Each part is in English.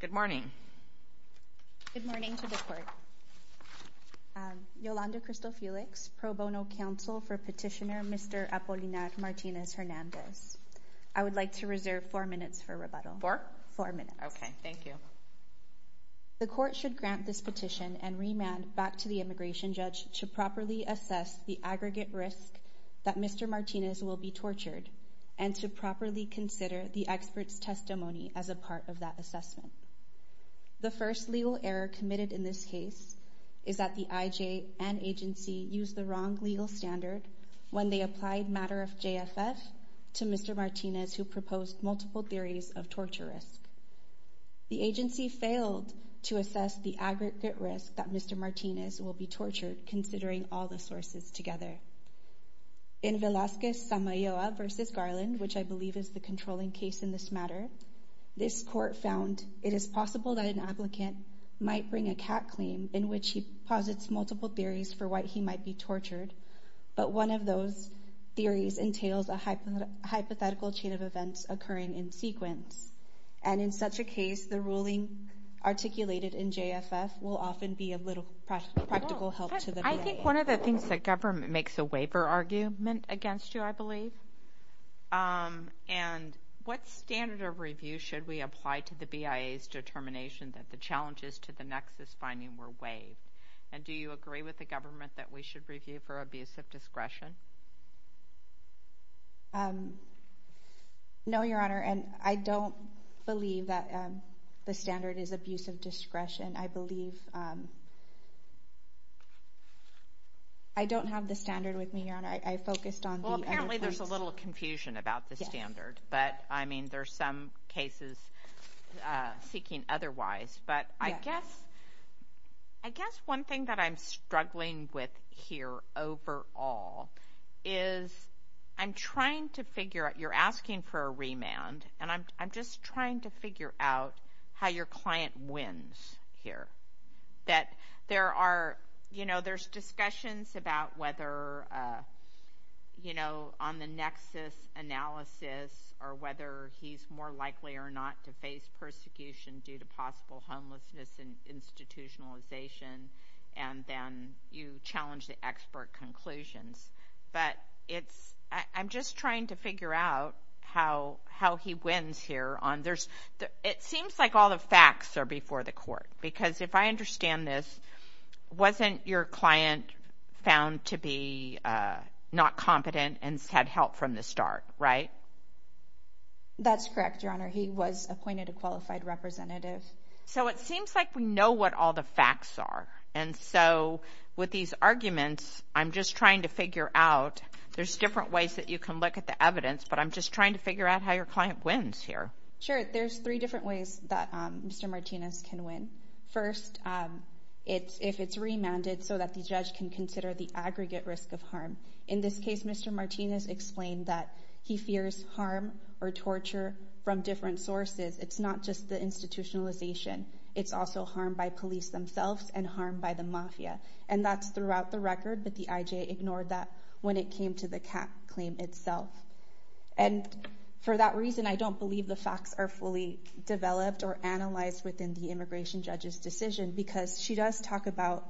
Good morning. Good morning to the court. Yolanda Crystal Felix, pro bono counsel for petitioner Mr. Apolinar Martinez-Hernandez. I would like to reserve four minutes for rebuttal. Four? Four minutes. Okay, thank you. The court should grant this petition and remand back to the immigration judge to properly assess the aggregate risk that Mr. Martinez will be tortured and to that assessment. The first legal error committed in this case is that the IJ and agency used the wrong legal standard when they applied matter of JFF to Mr. Martinez who proposed multiple theories of torture risk. The agency failed to assess the aggregate risk that Mr. Martinez will be tortured considering all the sources together. In Velazquez-Samayoa v. Garland, which I found, it is possible that an applicant might bring a cat claim in which he posits multiple theories for why he might be tortured, but one of those theories entails a hypothetical chain of events occurring in sequence, and in such a case the ruling articulated in JFF will often be a little practical help to the case. I think one of the things that government makes a waiver argument against you, I believe, and what standard of review should we apply to the BIA's determination that the challenges to the nexus finding were waived, and do you agree with the government that we should review for abuse of discretion? No, Your Honor, and I don't believe that the standard is abuse of discretion. I don't have the standard with me, Your Honor. I focused on... Well, apparently there's a little confusion about the standard, but, I mean, there's some cases seeking otherwise, but I guess, I guess one thing that I'm struggling with here overall is I'm trying to figure out, you're asking for a remand, and I'm just trying to figure out, you know, there's discussions about whether, you know, on the nexus analysis or whether he's more likely or not to face persecution due to possible homelessness and institutionalization, and then you challenge the expert conclusions, but it's, I'm just trying to figure out how, how he wins here on, there's, it seems like all the facts are before the court, because if I understand this, wasn't your client found to be not competent and had help from the start, right? That's correct, Your Honor. He was appointed a qualified representative. So it seems like we know what all the facts are, and so with these arguments, I'm just trying to figure out, there's different ways that you can look at the evidence, but I'm just trying to figure out how your client wins here. Sure, there's three different ways that Mr. Martinez can win. First, it's, if it's remanded so that the judge can consider the aggregate risk of harm. In this case, Mr. Martinez explained that he fears harm or torture from different sources. It's not just the institutionalization. It's also harm by police themselves and harm by the mafia, and that's throughout the record, but the IJ ignored that when it came to the facts are fully developed or analyzed within the immigration judge's decision, because she does talk about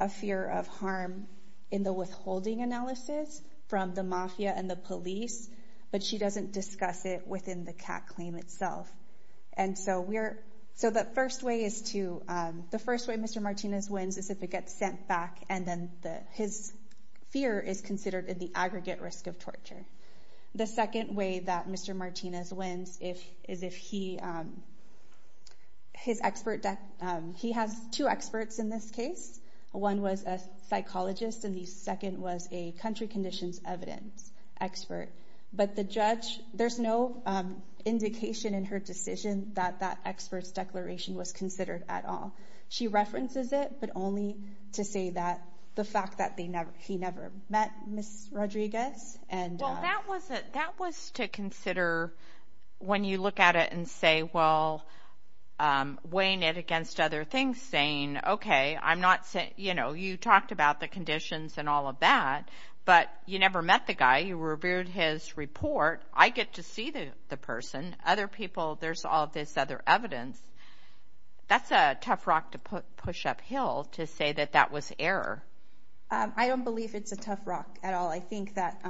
a fear of harm in the withholding analysis from the mafia and the police, but she doesn't discuss it within the CAT claim itself, and so we're, so the first way is to, the first way Mr. Martinez wins is if it gets sent back, and then the, his fear is considered in the aggregate risk of harm. The second way is if he, his expert, he has two experts in this case. One was a psychologist, and the second was a country conditions evidence expert, but the judge, there's no indication in her decision that that expert's declaration was considered at all. She references it, but only to say that the fact that they never, he never met Ms. Rodriguez. Well, that was it, that was to consider when you look at it and say, well, weighing it against other things, saying, okay, I'm not saying, you know, you talked about the conditions and all of that, but you never met the guy, you reviewed his report, I get to see the person, other people, there's all this other evidence. That's a tough rock to push uphill to say that that was error. I don't believe it's a tough rock at all. I think that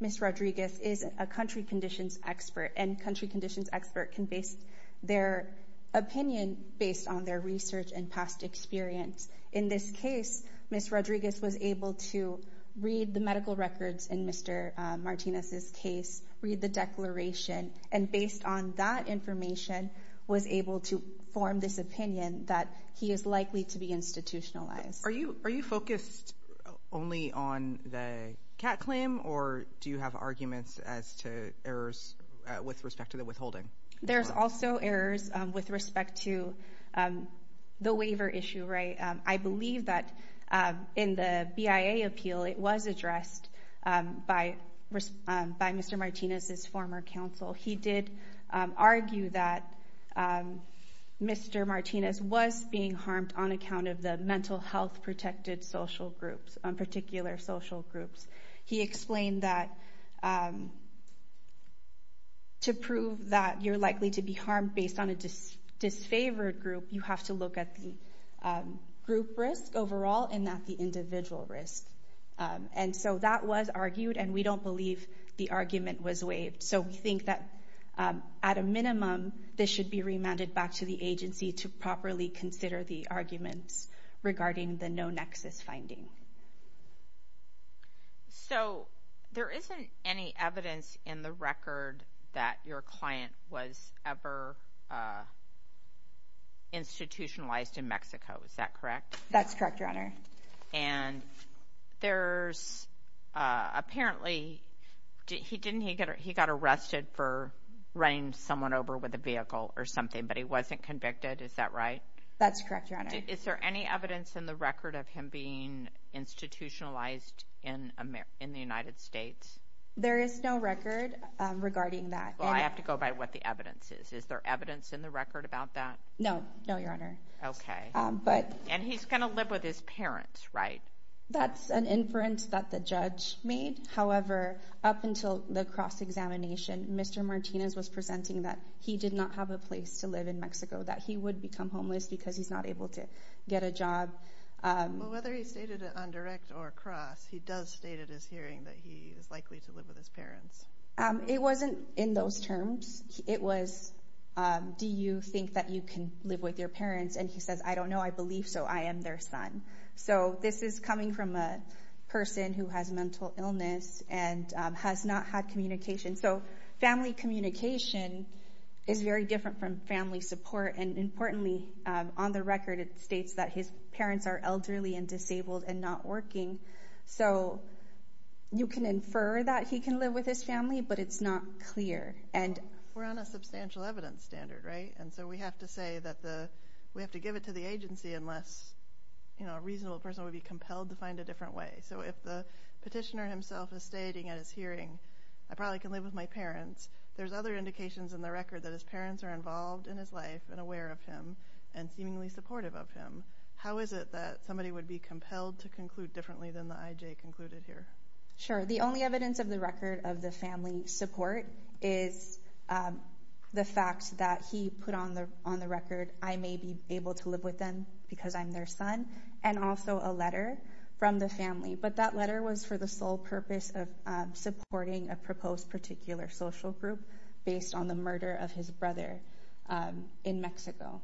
Ms. Rodriguez is a country conditions expert, and country conditions expert can base their opinion based on their research and past experience. In this case, Ms. Rodriguez was able to read the medical records in Mr. Martinez's case, read the declaration, and based on that information, was able to form this opinion that he is likely to be institutionalized. Are you, are you aware of any errors with respect to the withholding? There's also errors with respect to the waiver issue, right? I believe that in the BIA appeal, it was addressed by Mr. Martinez's former counsel. He did argue that Mr. Martinez was being harmed on account of the mental health protected social groups. He explained that to prove that you're likely to be harmed based on a disfavored group, you have to look at the group risk overall and not the individual risk. And so that was argued, and we don't believe the argument was waived. So we think that at a minimum, this should be remanded back to the court. So there isn't any evidence in the record that your client was ever institutionalized in Mexico, is that correct? That's correct, Your Honor. And there's apparently, he didn't, he got arrested for running someone over with a vehicle or something, but he wasn't convicted, is that right? That's correct, Your Honor. Is there any evidence in the record of him being institutionalized in the United States? There is no record regarding that. Well, I have to go by what the evidence is. Is there evidence in the record about that? No, no, Your Honor. Okay, and he's gonna live with his parents, right? That's an inference that the judge made. However, up until the cross-examination, Mr. Martinez was presenting that he did not have a place to live in Mexico, that he would become homeless because he's not able to get a job. Whether he stated it on direct or cross, he does state at his hearing that he is likely to live with his parents. It wasn't in those terms. It was, do you think that you can live with your parents? And he says, I don't know. I believe so. I am their son. So this is coming from a person who has mental illness and has not had communication. So it's very different from family support. And importantly, on the record it states that his parents are elderly and disabled and not working. So you can infer that he can live with his family, but it's not clear. And we're on a substantial evidence standard, right? And so we have to say that the, we have to give it to the agency unless, you know, a reasonable person would be compelled to find a different way. So if the petitioner himself is stating at his hearing, I probably can live with my parents, there's other indications in the record that his parents are involved in his life and aware of him and seemingly supportive of him. How is it that somebody would be compelled to conclude differently than the IJ concluded here? Sure. The only evidence of the record of the family support is the fact that he put on the record, I may be able to live with them because I'm their son, and also a letter from the family. But that letter was for the sole purpose of supporting a proposed particular social group based on the murder of his brother in Mexico.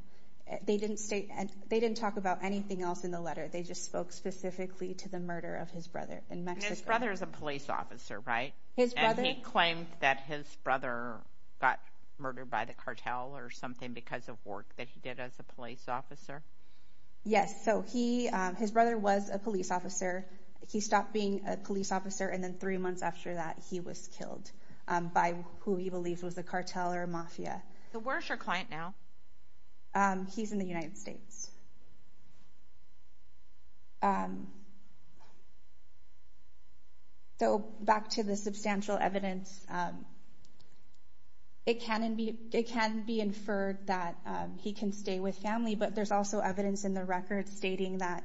They didn't state, they didn't talk about anything else in the letter, they just spoke specifically to the murder of his brother in Mexico. His brother is a police officer, right? His brother. And he claimed that his brother got murdered by the cartel or something because of work that he did as a police officer? Yes, so he, his brother was a police officer. He stopped being a police officer and then three months after that, he was killed by who he believes was a cartel or mafia. So where's your client now? He's in the United States. So back to the substantial evidence, it can be inferred that he can stay with family, but there's also evidence in the record stating that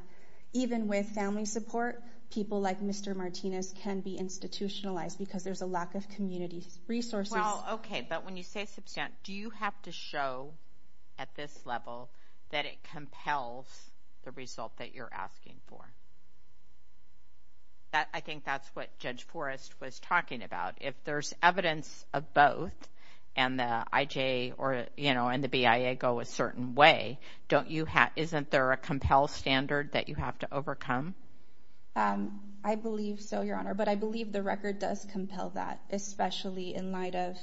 even with family support, people like Mr. Martinez can be institutionalized because there's a lack of community resources. Well, okay, but when you say substantial, do you have to show at this level that it compels the result that you're asking for? I think that's what Judge Forrest was talking about. If there's evidence of both and the IJ or, you know, and the BIA go a certain way, isn't there a compel standard that you have to overcome? I believe so, Your Honor, but I believe the record does compel that, especially in light of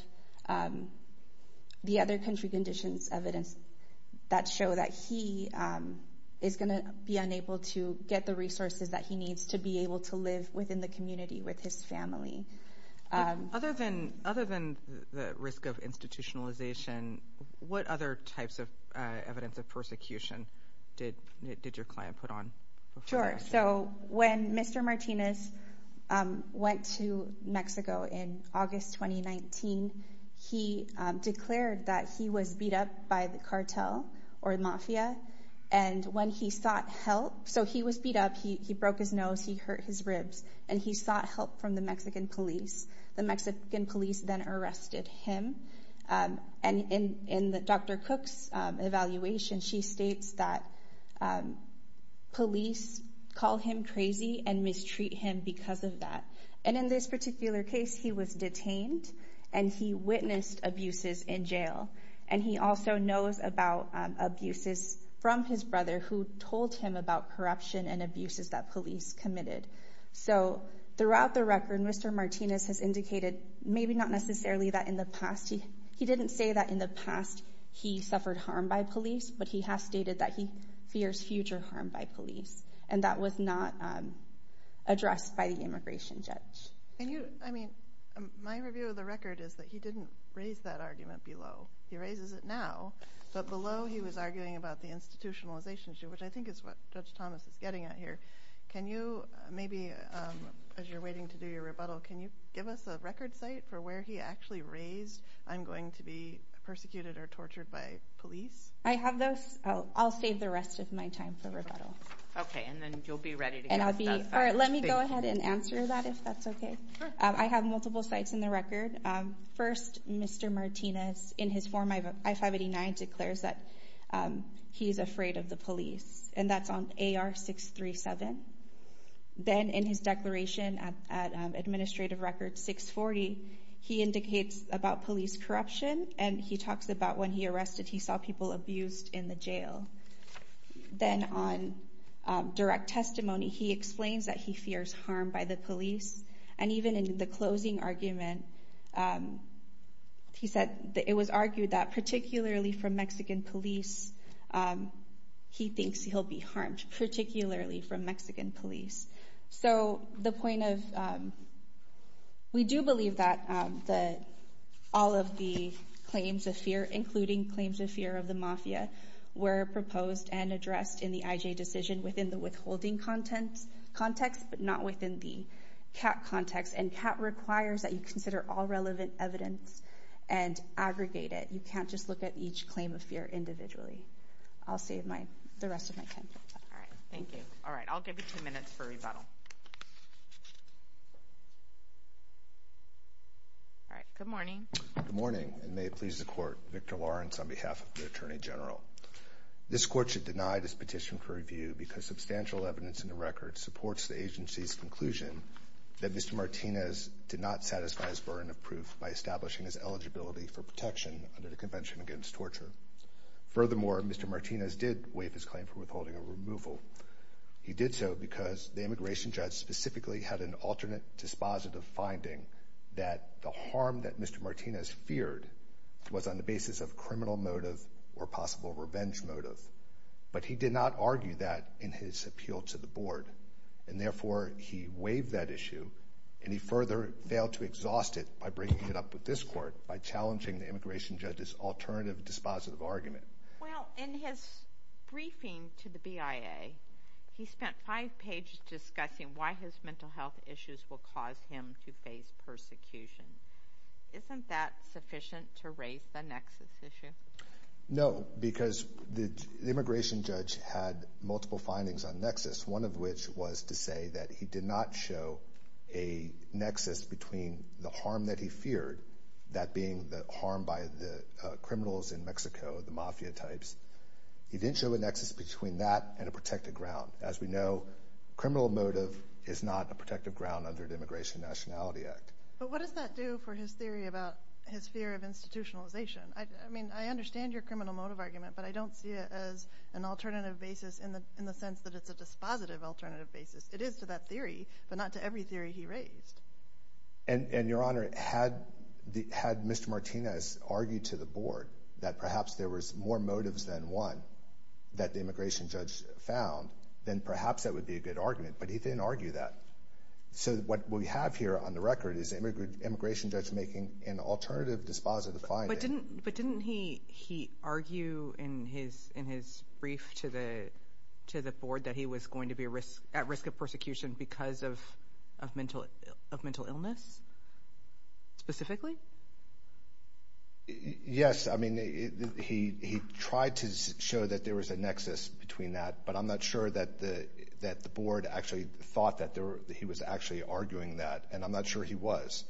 the other country conditions evidence that show that he is gonna be unable to get the resources that he needs to be able to live within the community with his family. Other than the risk of institutionalization, what other types of evidence of persecution did your client put on? Sure, so when Mr. Martinez went to Mexico in August 2019, he declared that he was beat up by the cartel or the mafia, and when he sought help, so he was beat up, he broke his nose, he hurt his ribs, and he sought help from the Mexican police. The Mexican police then arrested him, and in Dr. Cook's evaluation, she states that police call him crazy and mistreat him because of that, and in this particular case, he was detained and he witnessed abuses in jail, and he also knows about abuses from his brother who told him about corruption and abuses that police committed. So he didn't say that in the past he suffered harm by police, but he has stated that he fears future harm by police, and that was not addressed by the immigration judge. Can you, I mean, my review of the record is that he didn't raise that argument below. He raises it now, but below he was arguing about the institutionalization issue, which I think is what Judge Thomas is getting at here. Can you maybe, as you're waiting to do your rebuttal, can you give us a record site for where he actually raised, I'm going to be persecuted or tortured by police? I have those. I'll save the rest of my time for rebuttal. Okay, and then you'll be ready. And I'll be, all right, let me go ahead and answer that if that's okay. I have multiple sites in the record. First, Mr. Martinez, in his form I-589 declares that he's afraid of the police, and that's on AR-637. Then in his administrative record, 640, he indicates about police corruption, and he talks about when he arrested, he saw people abused in the jail. Then on direct testimony, he explains that he fears harm by the police, and even in the closing argument, he said it was argued that particularly from Mexican police, he do believe that all of the claims of fear, including claims of fear of the mafia, were proposed and addressed in the IJ decision within the withholding context, but not within the CAT context. And CAT requires that you consider all relevant evidence and aggregate it. You can't just look at each claim of fear individually. I'll save the rest of my time. All right, thank you. All right, good morning. Good morning, and may it please the Court, Victor Lawrence on behalf of the Attorney General. This Court should deny this petition for review because substantial evidence in the record supports the agency's conclusion that Mr. Martinez did not satisfy his burden of proof by establishing his eligibility for protection under the Convention Against Torture. Furthermore, Mr. Martinez did waive his claim for withholding a removal. He did so because the immigration judge specifically had an alternate dispositive finding that the harm that Mr. Martinez feared was on the basis of criminal motive or possible revenge motive, but he did not argue that in his appeal to the Board, and therefore he waived that issue, and he further failed to exhaust it by breaking it up with this Court by challenging the immigration judge's alternative dispositive argument. Well, in his briefing to the BIA, he spent five pages discussing why his mental health issues will cause him to face persecution. Isn't that sufficient to raise the nexus issue? No, because the immigration judge had multiple findings on nexus, one of which was to say that he did not show a nexus between the harm that he feared, that being the harm by the criminals in Mexico, the mafia types. He didn't show a nexus between that and a protected ground. As we know, criminal motive is not a protected ground under the Immigration Nationality Act. But what does that do for his theory about his fear of institutionalization? I mean, I understand your criminal motive argument, but I don't see it as an alternative basis in the sense that it's a dispositive alternative basis. It is to that theory, but not to every theory he raised. And, Your Honor, had Mr. Martinez argued to the Board that perhaps there was more motives than one that the immigration judge found, then perhaps that would be a good argument, but he didn't argue that. So, what we have here on the record is immigration judge making an alternative dispositive finding. But didn't he argue in his brief to the Board that he was going to be at risk of persecution because of mental illness, specifically? Yes, I mean, he tried to show that there was a nexus between that, but I'm not sure that the Board actually thought that he was actually arguing that, and I'm not sure he was.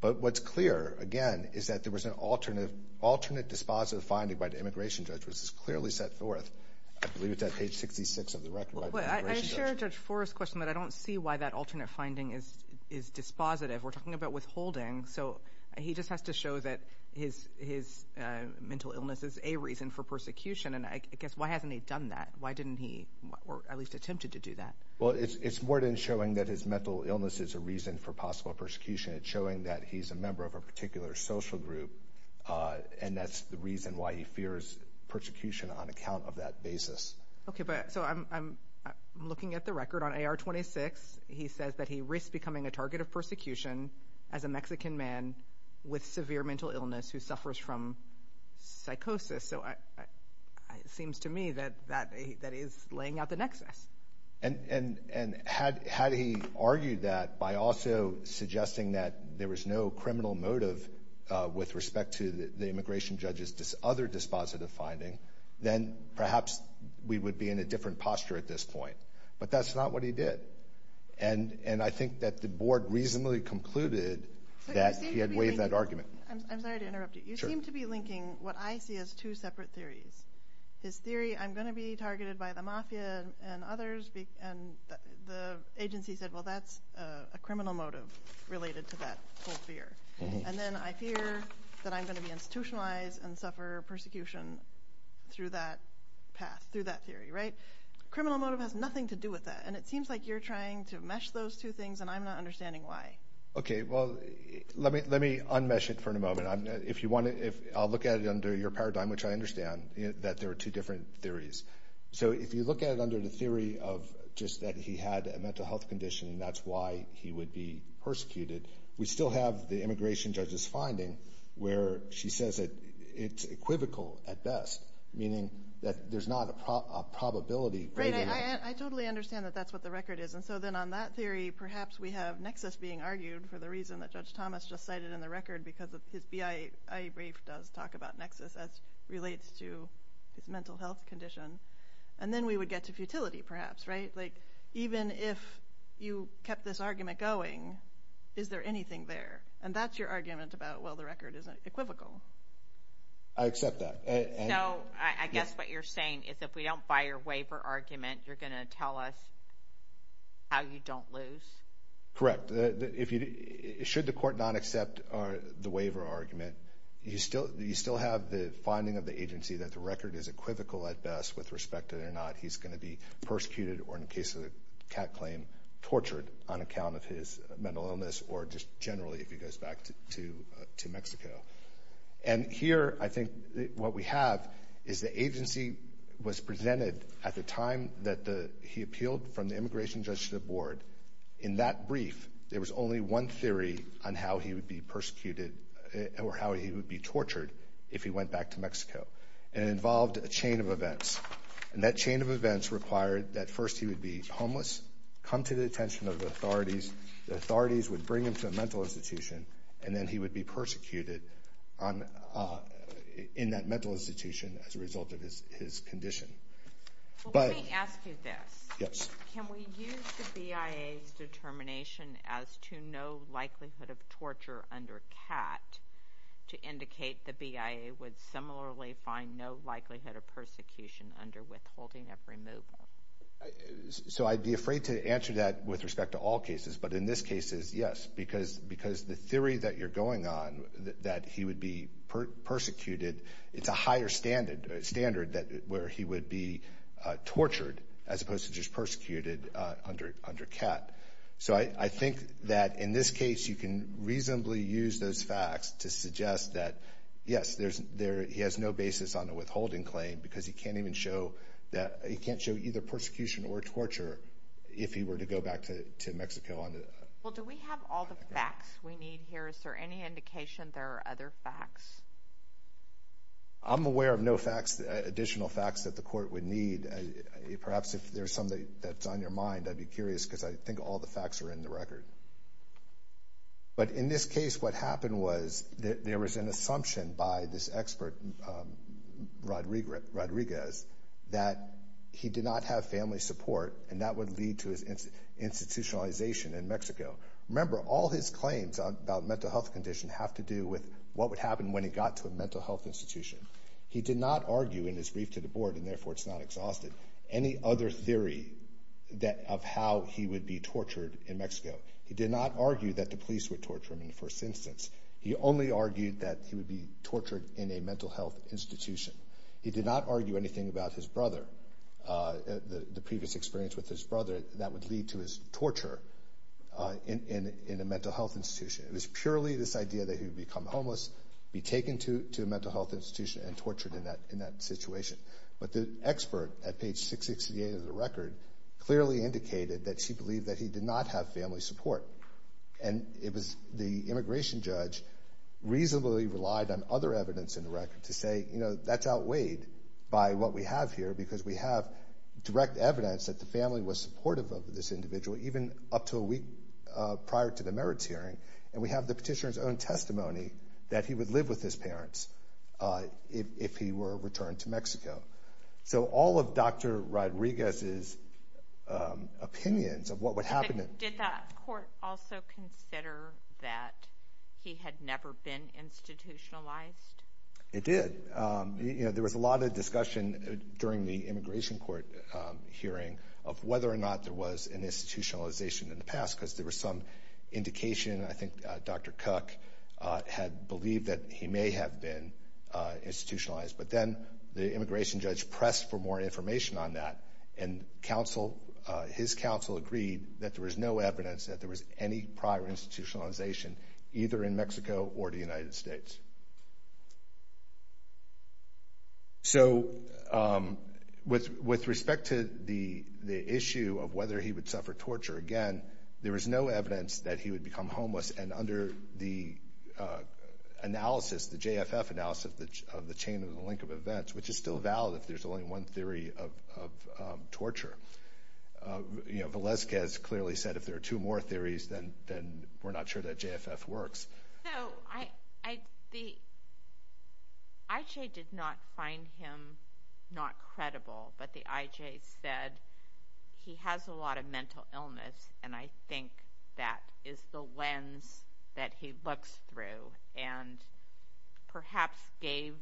But what's clear, again, is that there was an alternate dispositive finding by the immigration judge, which is clearly set forth. I believe it's at page 66 of the record. I share Judge Forrest's question, but I don't see why that alternate finding is dispositive. We're talking about withholding, so he just has to show that his mental illness is a reason for persecution, and I guess why hasn't he done that? Why didn't he, or at least attempted to do that? Well, it's more than showing that his mental illness is a reason for possible persecution. It's showing that he's a member of a particular social group, and that's the reason why he fears persecution on account of that basis. Okay, but so I'm looking at the record on AR-26. He says that he risked becoming a target of persecution as a Mexican man with severe mental illness who suffers from psychosis, so it seems to me that that is laying out the nexus. And had he argued that by also suggesting that there was no criminal motive with respect to the immigration judge's other dispositive finding, then perhaps we would be in a different posture at this point. But that's not what he did, and I think that the board reasonably concluded that he had interrupted. You seem to be linking what I see as two separate theories. His theory, I'm going to be targeted by the mafia and others, and the agency said, well, that's a criminal motive related to that whole fear. And then I fear that I'm going to be institutionalized and suffer persecution through that path, through that theory, right? Criminal motive has nothing to do with that, and it seems like you're trying to mesh those two things, and I'm not understanding why. Okay, well, let me unmesh it for a moment. I'll look at it under your paradigm, which I understand, that there are two different theories. So if you look at it under the theory of just that he had a mental health condition and that's why he would be persecuted, we still have the immigration judge's finding where she says that it's equivocal at best, meaning that there's not a probability. Right, I totally understand that that's what the record is, and so then on that theory, perhaps we have nexus being argued for the reason that Judge Thomas just cited in the record because his BIA brief does talk about nexus as relates to his mental health condition, and then we would get to futility, perhaps, right? Like, even if you kept this argument going, is there anything there? And that's your argument about, well, the record isn't equivocal. I accept that. No, I guess what you're saying is if we don't buy your waiver argument, you're going to tell us how you don't lose? Correct. If you, should the court not accept the waiver argument, you still have the finding of the agency that the record is equivocal at best with respect to whether or not he's going to be persecuted or, in the case of the cat claim, tortured on account of his mental illness or just generally if he goes back to Mexico. And here, I think what we have is the agency was presented at the time that he appealed from the Immigration Judiciary Board. In that brief, there was only one theory on how he would be persecuted or how he would be tortured if he went back to Mexico, and it involved a chain of events, and that chain of events required that first he would be homeless, come to the attention of the authorities, the authorities would bring him to a mental institution, and then he would be in that mental institution as a result of his condition. But let me ask you this. Yes. Can we use the BIA's determination as to no likelihood of torture under cat to indicate the BIA would similarly find no likelihood of persecution under withholding of removal? So I'd be afraid to answer that with respect to all cases, but in this case is yes, because, because the theory that you're going on, that he would be persecuted, it's a higher standard, standard that where he would be tortured as opposed to just persecuted under, under cat. So I think that in this case, you can reasonably use those facts to suggest that yes, there's, there, he has no basis on a withholding claim because he can't even show that, he can't show either persecution or torture if he were to go back to Mexico. Well, do we have all the other facts? I'm aware of no facts, additional facts that the court would need. Perhaps if there's something that's on your mind, I'd be curious because I think all the facts are in the record. But in this case, what happened was that there was an assumption by this expert, Rodriguez, that he did not have family support and that would lead to his institutionalization in Mexico. Remember, all his claims about mental health condition have to do with what would happen when he got to a mental health institution. He did not argue in his brief to the board, and therefore it's not exhausted, any other theory that, of how he would be tortured in Mexico. He did not argue that the police would torture him in the first instance. He only argued that he would be tortured in a mental health institution. He did not argue anything about his brother, the in a mental health institution. It was purely this idea that he would become homeless, be taken to a mental health institution and tortured in that situation. But the expert at page 668 of the record clearly indicated that she believed that he did not have family support. And it was the immigration judge reasonably relied on other evidence in the record to say, you know, that's outweighed by what we have here because we have direct evidence that the family was supportive of this individual even up to a week prior to the merits hearing. And we have the petitioner's own testimony that he would live with his parents if he were returned to Mexico. So all of Dr. Rodriguez's opinions of what would happen. Did that court also consider that he had never been institutionalized? It did. You know, there was a lot of discussion during the immigration court hearing of whether or not there was an institutionalization in the past because there was some indication, I think Dr. Cook had believed that he may have been institutionalized. But then the immigration judge pressed for more information on that and counsel, his counsel agreed that there was no evidence that there was any prior institutionalization either in Mexico or the United States. So with respect to the issue of whether he would suffer torture again, there was no evidence that he would become homeless. And under the analysis, the JFF analysis of the chain of the link of events, which is still valid if there's only one theory of torture, you know, Velezquez clearly said if there are two more theories then we're not sure that JFF works. So the IJ did not find him not credible, but the IJ said he has a lot of mental illness and I think that is the lens that he looks through and perhaps gave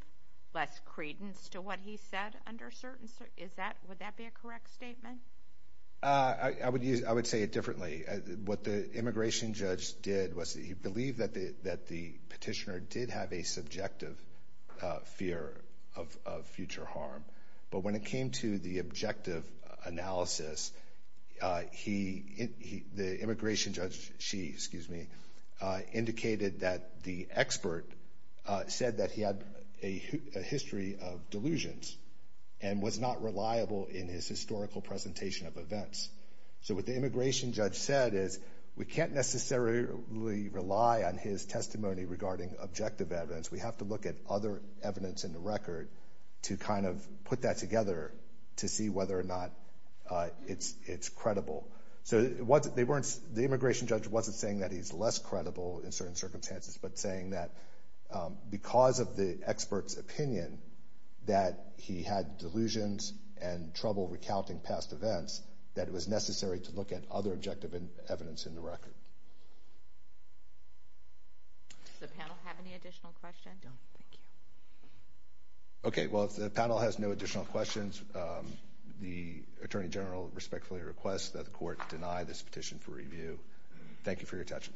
less credence to what he said under certain, is that, would that be a correct statement? I would use, I would say it differently. What the immigration judge did was he believed that the that the petitioner did have a subjective fear of future harm. But when it came to the objective analysis, he, the immigration judge, she, excuse me, indicated that the expert said that he had a history of delusions and was not reliable in his historical presentation of events. So what the immigration judge said is we can't necessarily rely on his testimony regarding objective evidence. We have to look at other evidence in the record to kind of put that together to see whether or not it's it's credible. So what they weren't, the immigration judge wasn't saying that he's less credible in certain circumstances, but saying that because of the expert's opinion that he had delusions and trouble recounting past events, that it was necessary to look at other objective evidence in the record. Okay, well, if the panel has no additional questions, the Attorney General respectfully requests that the court deny this petition for review. Thank you for your attention.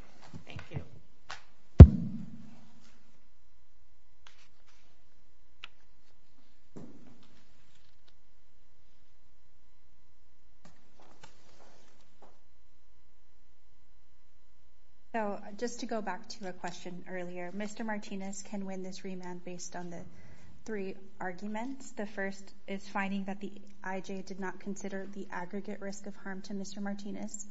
So just to go back to a question earlier, Mr. Martinez can win this remand based on the three arguments. The first is finding that the IJ did not consider the aggregate risk of harm to Mr. Martinez.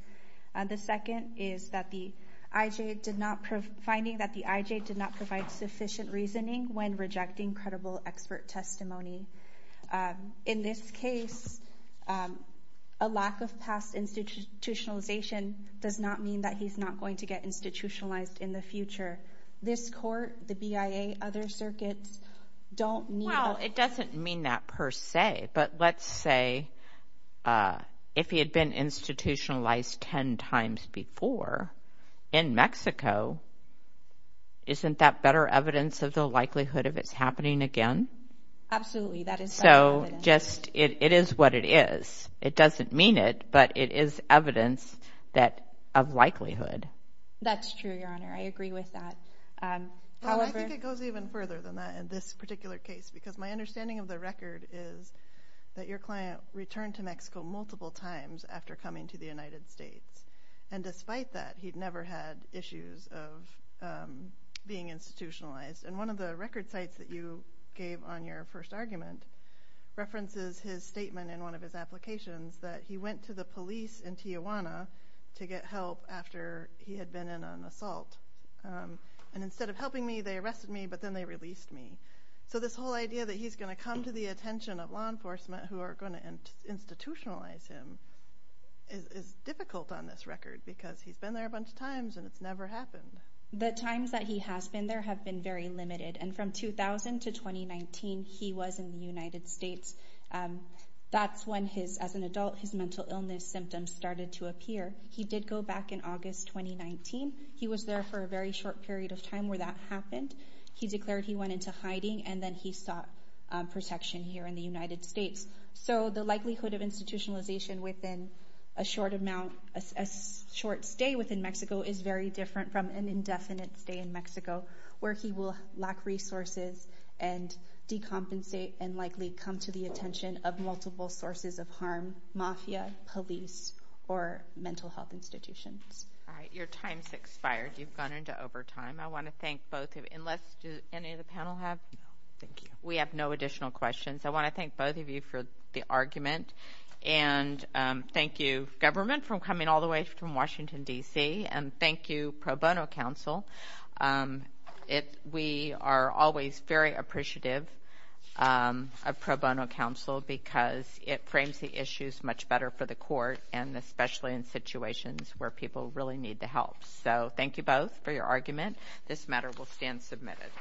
The second is that the IJ did not, finding that the IJ did not provide sufficient reasoning when rejecting credible expert testimony. In this case, a lack of past institutionalization does not mean that he's not going to get institutionalized in the future. This court, the BIA, other circuits don't need... Well, it doesn't mean that per se, but let's say if he had been institutionalized ten times before in Mexico, isn't that better evidence of the likelihood of it's happening again? Absolutely, that is... So, just, it is what it is. It doesn't mean it, but it is evidence that, of likelihood. That's true, Your Honor, I agree with that. I think it goes even further than that in this particular case, because my understanding of the record is that your client returned to Mexico multiple times after coming to the United States, and despite that, he'd never had issues of being institutionalized. And one of the record sites that you gave on your first argument references his statement in one of his applications that he went to the police in Tijuana to get help after he had been in an assault. And instead of helping me, they arrested me, but then they released me. So this whole idea that he's going to come to the attention of law enforcement who are going to institutionalize him is difficult on this record, because he's been there a bunch of times and it's never happened. The times that he has been there have been very limited, and from 2000 to 2019, he was in the United States. That's when his, as an adult, his mental illness symptoms started to appear. He did go back in August 2019. He was there for a very short period of time where that happened. He declared he went into hiding, and then he sought protection here in the United States. So the short stay within Mexico is very different from an indefinite stay in Mexico, where he will lack resources and decompensate and likely come to the attention of multiple sources of harm, mafia, police, or mental health institutions. All right, your time's expired. You've gone into overtime. I want to thank both of you. Unless, do any of the panel have? Thank you. We have no additional questions. I want to thank both of you for the argument, and thank you, government, for coming all the way from Washington, D.C., and thank you, Pro Bono Council. We are always very appreciative of Pro Bono Council, because it frames the issues much better for the court, and especially in situations where people really need the help. So thank you both for your argument. This matter will stand submitted.